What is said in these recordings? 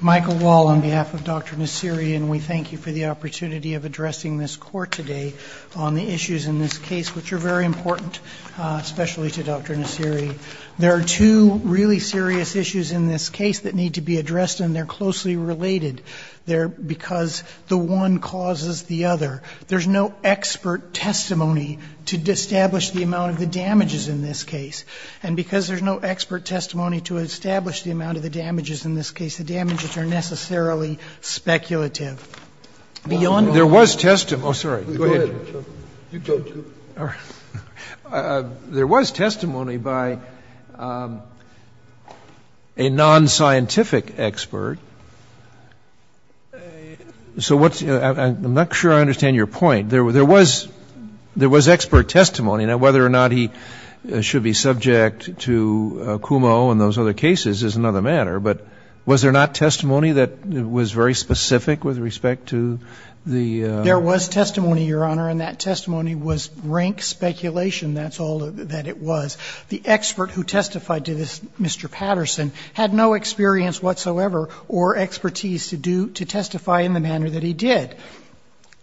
Michael Wall on behalf of Dr. Nassiri and we thank you for the opportunity of addressing this court today on the issues in this case which are very important especially to Dr. Nassiri. There are two really serious issues in this case that need to be addressed and they're closely related. They're because the one causes the other. There's no expert testimony to establish the amount of the damages in this case and because there's no expert testimony to establish the amount of the damages in this case, the damages are necessarily speculative. Beyond that, there was testimony, oh, sorry, go ahead. There was testimony by a non-scientific expert, so what's, I'm not sure I understand your point. There was, there was expert testimony. Now, whether or not he should be subject to CUMO and those other cases is another matter, but was there not testimony that was very specific with respect to the? There was testimony, Your Honor, and that testimony was rank speculation, that's all that it was. The expert who testified to this, Mr. Patterson, had no experience whatsoever or expertise to do, to testify in the manner that he did.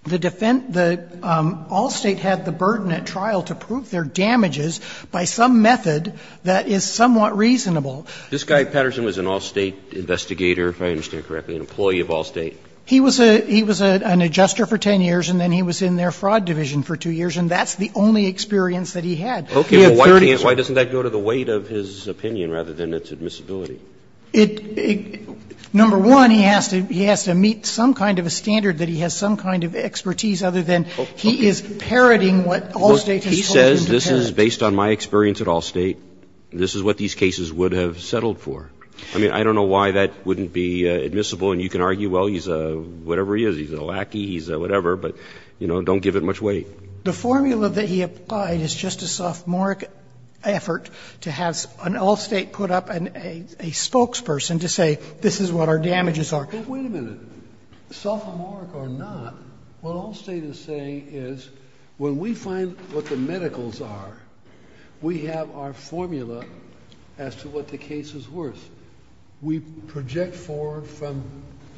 The defense, the Allstate had the burden at trial to prove their damages by some method that is somewhat reasonable. This guy, Patterson, was an Allstate investigator, if I understand correctly, an employee of Allstate. He was a, he was an adjuster for 10 years and then he was in their fraud division for 2 years and that's the only experience that he had. Okay, well, why doesn't that go to the weight of his opinion rather than its admissibility? It, number one, he has to, he has to meet some kind of a standard that he has some kind of expertise other than he is parroting what Allstate has told him to parrot. He says this is based on my experience at Allstate, this is what these cases would have settled for. I mean, I don't know why that wouldn't be admissible and you can argue, well, he's a, whatever he is, he's a lackey, he's a whatever, but, you know, don't give it much weight. The formula that he applied is just a sophomoric effort to have an Allstate put up a spokesperson to say, this is what our damages are. But wait a minute, sophomoric or not, what Allstate is saying is when we find what the medicals are, we have our formula as to what the case is worth. We project forward from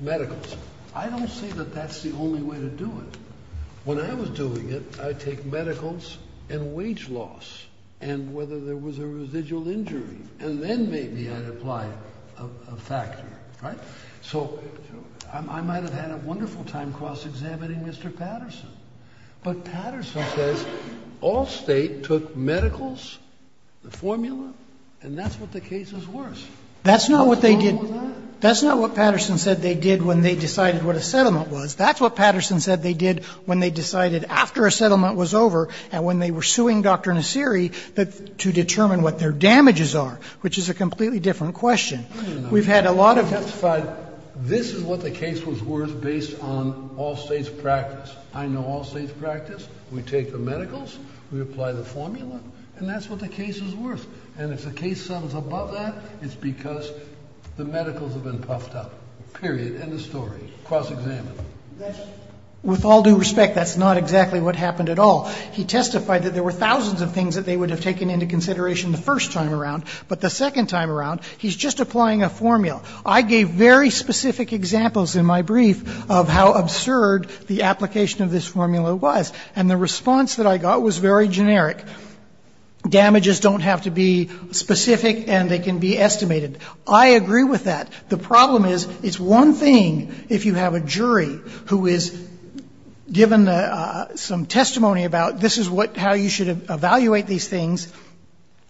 medicals. I don't say that that's the only way to do it. When I was doing it, I take medicals and wage loss and whether there was a residual injury, and then maybe I'd apply a factor, right? So I might have had a wonderful time cross-examining Mr. Patterson, but Patterson says Allstate took medicals, the formula, and that's what the case is worth. That's not what they did. That's not what Patterson said they did when they decided what a settlement was. That's what Patterson said they did when they decided after a settlement was over and when they were suing Dr. Nassiri to determine what their damages are, which is a completely different question. We've had a lot of... I've testified, this is what the case was worth based on Allstate's practice. I know Allstate's practice. We take the medicals, we apply the formula, and that's what the case is worth. And if the case sums above that, it's because the medicals have been puffed up, period, end of story, cross-examined. With all due respect, that's not exactly what happened at all. He testified that there were thousands of things that they would have taken into consideration the first time around, but the second time around, he's just applying a formula. I gave very specific examples in my brief of how absurd the application of this formula was, and the response that I got was very generic. Damages don't have to be specific and they can be estimated. I agree with that. The problem is, it's one thing if you have a jury who is given some testimony about, this is how you should evaluate these things,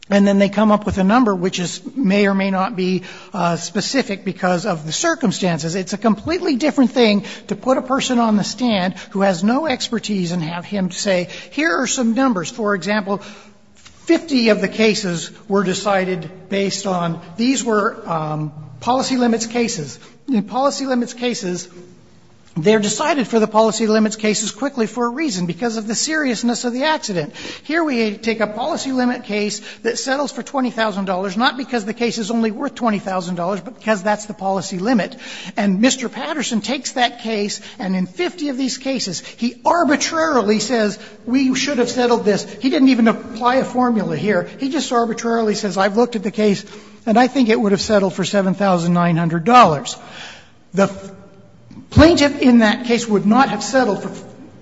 and then they come up with a number which may or may not be specific because of the circumstances. It's a completely different thing to put a person on the stand who has no expertise and have him say, here are some numbers. For example, 50 of the cases were decided based on, these were policy limits cases. In policy limits cases, they're decided for the policy limits cases quickly for a seriousness of the accident. Here, we take a policy limit case that settles for $20,000, not because the case is only worth $20,000, but because that's the policy limit, and Mr. Patterson takes that case, and in 50 of these cases, he arbitrarily says, we should have settled this. He didn't even apply a formula here. He just arbitrarily says, I've looked at the case, and I think it would have settled for $7,900. The plaintiff in that case would not have settled for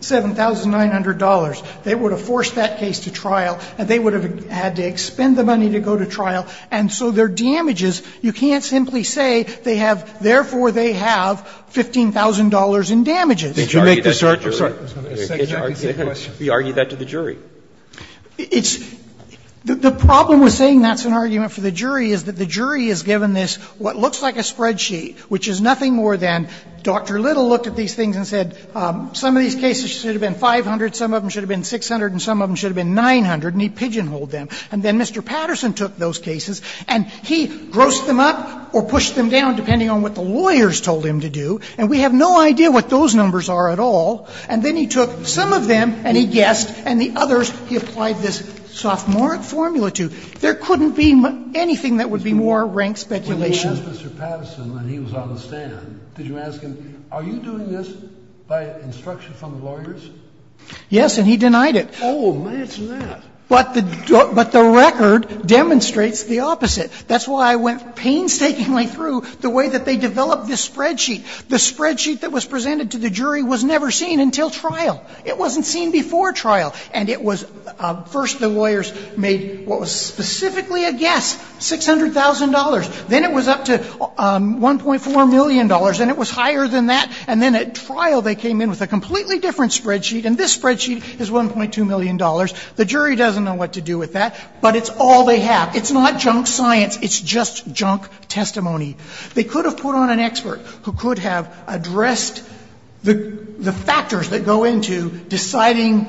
$7,900. They would have forced that case to trial, and they would have had to expend the money to go to trial, and so their damages, you can't simply say they have, therefore, they have $15,000 in damages. If you make the search, I'm sorry, I was going to ask a second question. Roberts, we argue that to the jury. It's the problem with saying that's an argument for the jury is that the jury is given this, what looks like a spreadsheet, which is nothing more than Dr. Little looked at these things and said some of these cases should have been 500, some of them should have been 600, and some of them should have been 900, and he pigeonholed them. And then Mr. Patterson took those cases, and he grossed them up or pushed them down depending on what the lawyers told him to do, and we have no idea what those numbers are at all, and then he took some of them and he guessed, and the others he applied this sophomoric formula to. There couldn't be anything that would be more rank speculation. Kennedy, when you asked Mr. Patterson when he was on the stand, did you ask him, are you doing this by instruction from the lawyers? Yes, and he denied it. Oh, that's mad. But the record demonstrates the opposite. That's why I went painstakingly through the way that they developed this spreadsheet. The spreadsheet that was presented to the jury was never seen until trial. It wasn't seen before trial, and it was first the lawyers made what was specifically a guess, $600,000, then it was up to $1.4 million, and it was higher than that, and then at trial they came in with a completely different spreadsheet, and this spreadsheet is $1.2 million. The jury doesn't know what to do with that, but it's all they have. It's not junk science. It's just junk testimony. They could have put on an expert who could have addressed the factors that go into deciding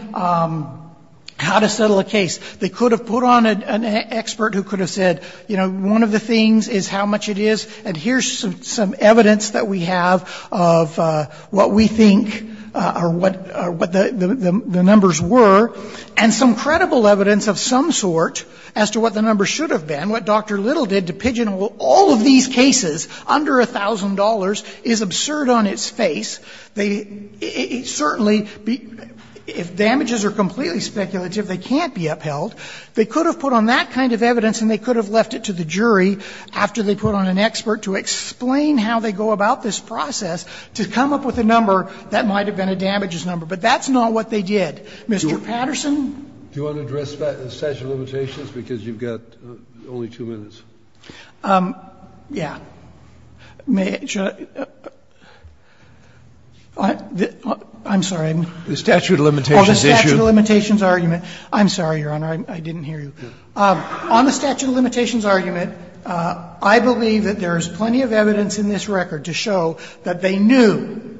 how to settle a case. They could have put on an expert who could have said, you know, one of the things is how much it is, and here's some evidence that we have of what we think or what the numbers were, and some credible evidence of some sort as to what the numbers should have been, what Dr. Little did to pigeonhole all of these cases under $1,000 is absurd on its face. They certainly, if damages are completely speculative, they can't be upheld. They could have put on that kind of evidence, and they could have left it to the jury after they put on an expert to explain how they go about this process to come up with a number that might have been a damages number, but that's not what they did. Mr. Patterson? Do you want to address statute of limitations, because you've got only two minutes? Yeah. May I? I'm sorry. The statute of limitations issue. Oh, the statute of limitations argument. I'm sorry, Your Honor. I didn't hear you. On the statute of limitations argument, I believe that there is plenty of evidence in this record to show that they knew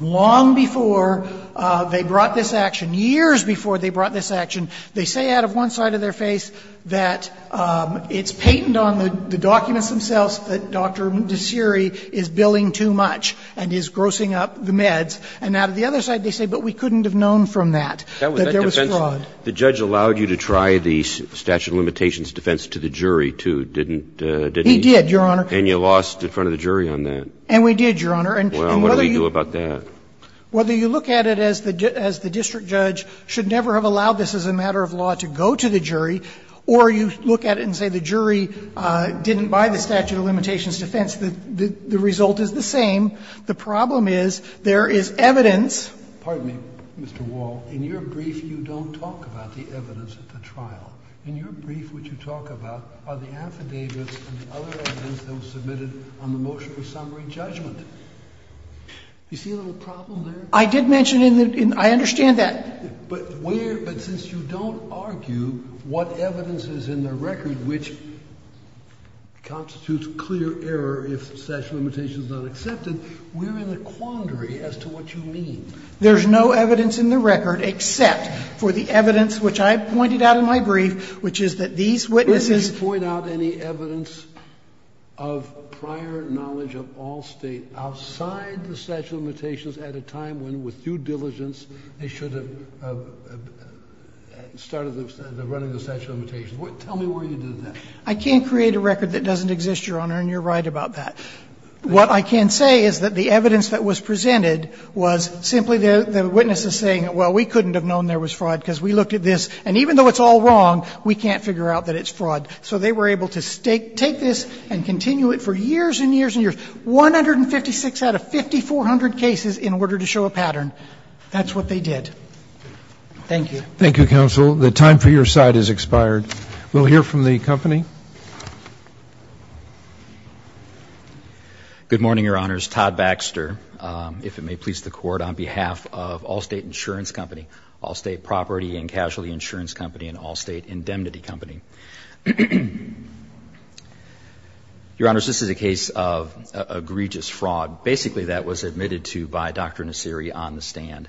long before they brought this action, years before they brought this action, they say out of one side of their face that it's patent on the documents themselves that Dr. Desiree is billing too much and is grossing up the meds, and out of the other side they say, but we couldn't have known from that, that there was fraud. The judge allowed you to try the statute of limitations defense to the jury, too, didn't he? He did, Your Honor. And you lost in front of the jury on that. And we did, Your Honor. And whether you look at it as the district judge should have been, and I'm sorry, you should never have allowed this as a matter of law to go to the jury, or you look at it and say the jury didn't buy the statute of limitations defense, the result is the same. The problem is there is evidence. Scalia, Mr. Wall, in your brief you don't talk about the evidence at the trial. In your brief what you talk about are the affidavits and the other evidence that was submitted on the motion of summary judgment. Do you see a little problem there? I did mention in the – I understand that. But where – but since you don't argue what evidence is in the record which constitutes clear error if statute of limitations is not accepted, we're in a quandary as to what you mean. There's no evidence in the record except for the evidence which I pointed out in my brief, which is that these witnesses – Where did you point out any evidence of prior knowledge of all State outside the statute of limitations at a time when, with due diligence, they should have started the running of the statute of limitations? Tell me where you did that. I can't create a record that doesn't exist, Your Honor, and you're right about that. What I can say is that the evidence that was presented was simply the witnesses saying, well, we couldn't have known there was fraud because we looked at this, and even though it's all wrong, we can't figure out that it's fraud. So they were able to take this and continue it for years and years and years. 156 out of 5,400 cases in order to show a pattern. That's what they did. Thank you. Thank you, counsel. The time for your side has expired. We'll hear from the company. Good morning, Your Honors. Todd Baxter, if it may please the Court, on behalf of Allstate Insurance Company, Allstate Property and Casualty Insurance Company, and Allstate Indemnity Company. Your Honors, this is a case of egregious fraud. Basically, that was admitted to by Dr. Nassiri on the stand.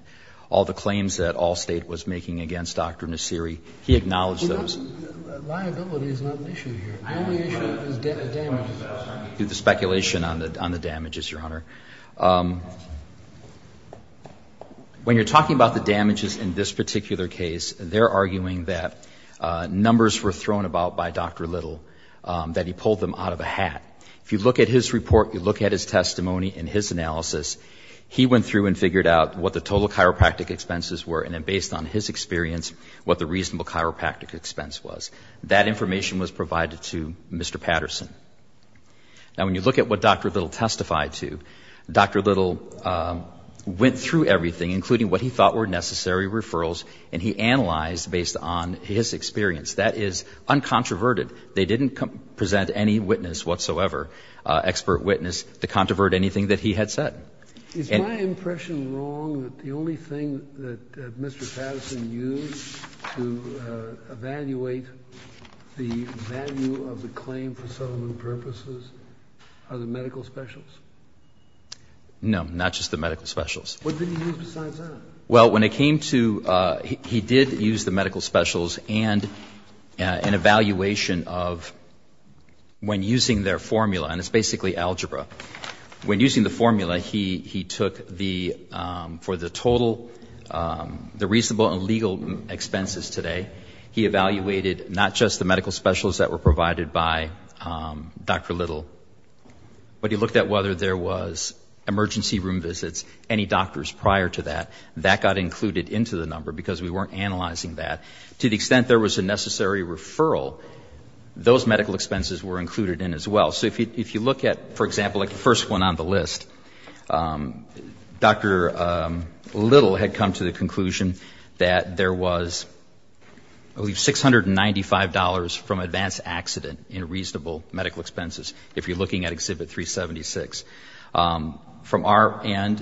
All the claims that Allstate was making against Dr. Nassiri, he acknowledged those. Liability is not an issue here. The only issue is damages. Do the speculation on the damages, Your Honor. When you're talking about the damages in this particular case, they're arguing that numbers were thrown about by Dr. Little, that he pulled them out of a hat. If you look at his report, you look at his testimony and his analysis, he went through and figured out what the total chiropractic expenses were, and then based on his experience, what the reasonable chiropractic expense was. That information was provided to Mr. Patterson. Now, when you look at what Dr. Little testified to, Dr. Little went through based on his experience. That is uncontroverted. They didn't present any witness whatsoever, expert witness, to controvert anything that he had said. Is my impression wrong that the only thing that Mr. Patterson used to evaluate the value of the claim for settlement purposes are the medical specials? No, not just the medical specials. What did he use besides that? Well, when it came to he did use the medical specials and an evaluation of when using their formula, and it's basically algebra, when using the formula, he took the, for the total, the reasonable and legal expenses today, he evaluated not just the medical specials that were provided by Dr. Little, but he looked at whether there was emergency room visits, any doctors prior to that, that got included into the number because we weren't analyzing that, to the extent there was a necessary referral, those medical expenses were included in as well. So if you look at, for example, like the first one on the list, Dr. Little had come to the conclusion that there was, I believe, $695 from advance accident in reasonable medical expenses, if you're looking at Exhibit 376. From our end,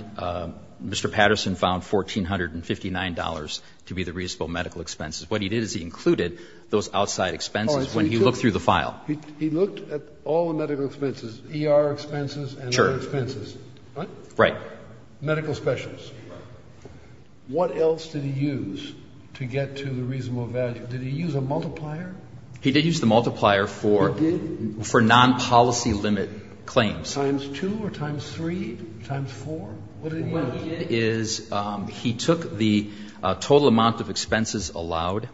Mr. Patterson found $1,459 to be the reasonable medical expenses. What he did is he included those outside expenses when he looked through the file. He looked at all the medical expenses, ER expenses and other expenses? Sure. Right? Right. Medical specials. What else did he use to get to the reasonable value? Did he use a multiplier? He did use the multiplier for non-policy limit claims. Times 2 or times 3, times 4? What did he get? What he did is he took the total amount of expenses allowed,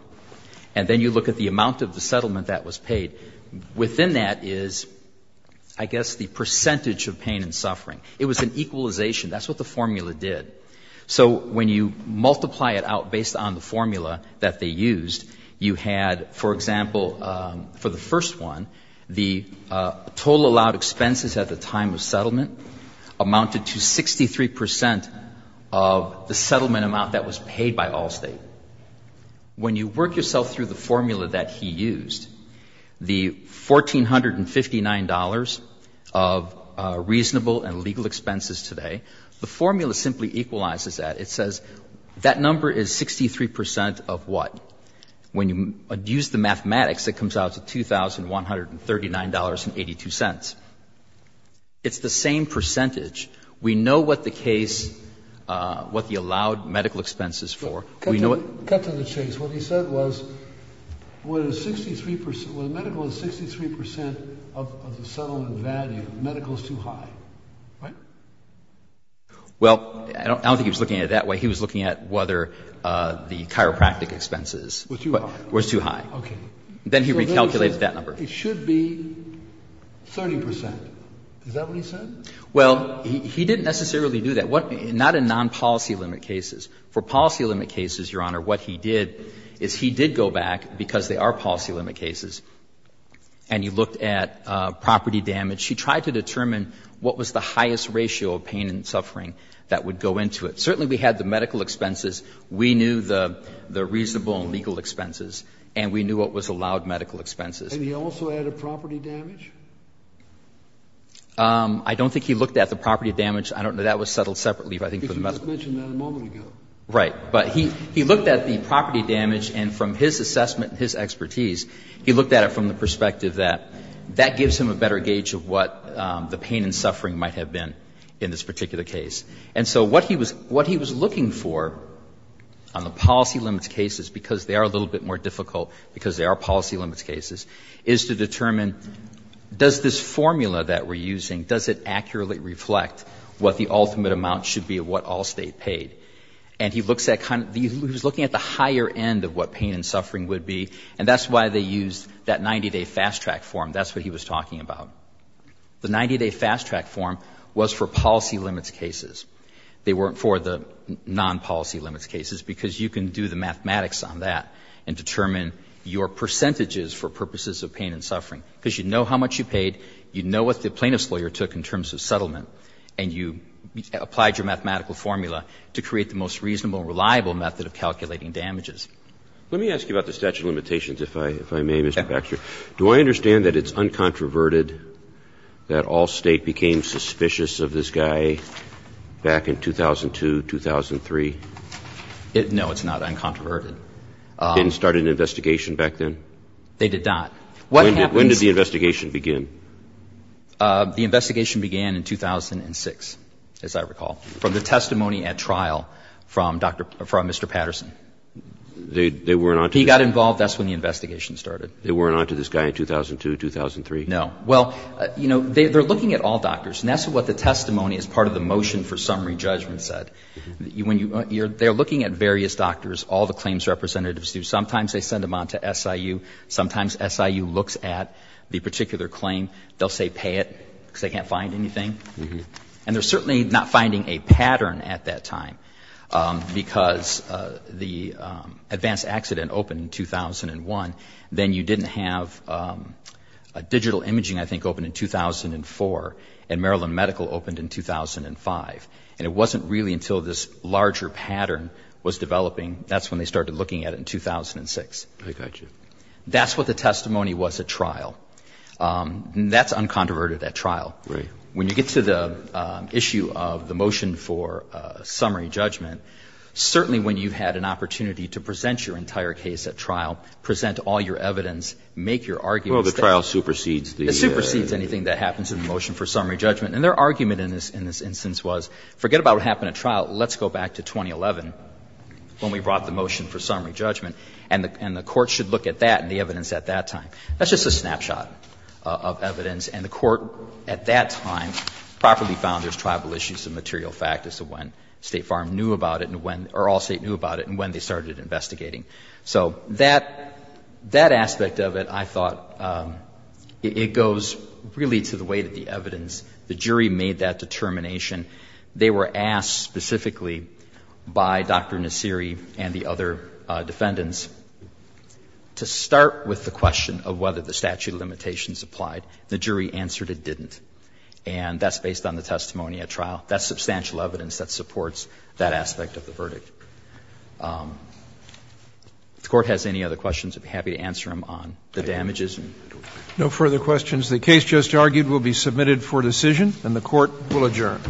and then you look at the amount of the settlement that was paid. Within that is, I guess, the percentage of pain and suffering. It was an equalization. That's what the formula did. So when you multiply it out based on the formula that they used, you had, for example, for the first one, the total allowed expenses at the time of settlement amounted to 63 percent of the settlement amount that was paid by Allstate. When you work yourself through the formula that he used, the $1,459 of reasonable and legal expenses today, the formula simply equalizes that. It says that number is 63 percent of what? When you use the mathematics, it comes out to $2,139.82. It's the same percentage. We know what the case, what the allowed medical expense is for. We know what the case is. Cut to the chase. What he said was when a 63 percent, when a medical is 63 percent of the settlement value, medical is too high, right? Well, I don't think he was looking at it that way. He was looking at whether the chiropractic expenses were too high. Okay. Then he recalculated that number. It should be 30 percent. Is that what he said? Well, he didn't necessarily do that. Not in nonpolicy limit cases. For policy limit cases, Your Honor, what he did is he did go back, because they are He tried to determine what was the highest ratio of pain and suffering that would go into it. Certainly, we had the medical expenses. We knew the reasonable and legal expenses, and we knew what was allowed medical expenses. And he also added property damage? I don't think he looked at the property damage. I don't know. That was settled separately, but I think for the most part. But you just mentioned that a moment ago. Right. But he looked at the property damage, and from his assessment and his expertise, he looked at it from the perspective that that gives him a better gauge of what the pain and suffering might have been in this particular case. And so what he was looking for on the policy limit cases, because they are a little bit more difficult, because they are policy limit cases, is to determine does this formula that we're using, does it accurately reflect what the ultimate amount should be of what Allstate paid? And he looks at the higher end of what pain and suffering would be, and that's why they used that 90-day fast-track form. That's what he was talking about. The 90-day fast-track form was for policy limits cases. They weren't for the non-policy limits cases, because you can do the mathematics on that and determine your percentages for purposes of pain and suffering. Because you know how much you paid, you know what the plaintiff's lawyer took in terms of settlement, and you applied your mathematical formula to create the most reasonable and reliable method of calculating damages. Let me ask you about the statute of limitations, if I may, Mr. Baxter. Do I understand that it's uncontroverted that Allstate became suspicious of this guy back in 2002, 2003? No, it's not uncontroverted. Didn't start an investigation back then? They did not. What happens When did the investigation begin? The investigation began in 2006, as I recall, from the testimony at trial from Mr. Patterson. They weren't on to this guy? He got involved. That's when the investigation started. They weren't on to this guy in 2002, 2003? No. Well, you know, they're looking at all doctors, and that's what the testimony as part of the motion for summary judgment said. When you're they're looking at various doctors, all the claims representatives do. Sometimes they send them on to SIU. Sometimes SIU looks at the particular claim. They'll say pay it, because they can't find anything. And they're certainly not finding a pattern at that time, because the advanced accident opened in 2001. Then you didn't have digital imaging, I think, opened in 2004, and Maryland Medical opened in 2005. And it wasn't really until this larger pattern was developing, that's when they started looking at it in 2006. I got you. That's what the testimony was at trial. That's uncontroverted at trial. Right. When you get to the issue of the motion for summary judgment, certainly when you had an opportunity to present your entire case at trial, present all your evidence, make your arguments. Well, the trial supersedes the argument. It supersedes anything that happens in the motion for summary judgment. And their argument in this instance was forget about what happened at trial, let's go back to 2011 when we brought the motion for summary judgment, and the Court should look at that and the evidence at that time. That's just a snapshot of evidence. And the Court at that time properly found there's tribal issues and material factors of when State Farm knew about it and when or all State knew about it and when they started investigating. So that aspect of it, I thought, it goes really to the way that the evidence, the jury made that determination. They were asked specifically by Dr. Nassiri and the other defendants to start with the question of whether the statute of limitations applied. The jury answered it didn't. And that's based on the testimony at trial. That's substantial evidence that supports that aspect of the verdict. If the Court has any other questions, I'd be happy to answer them on the damages and the tort. Roberts. No further questions. The case just argued will be submitted for decision, and the Court will adjourn.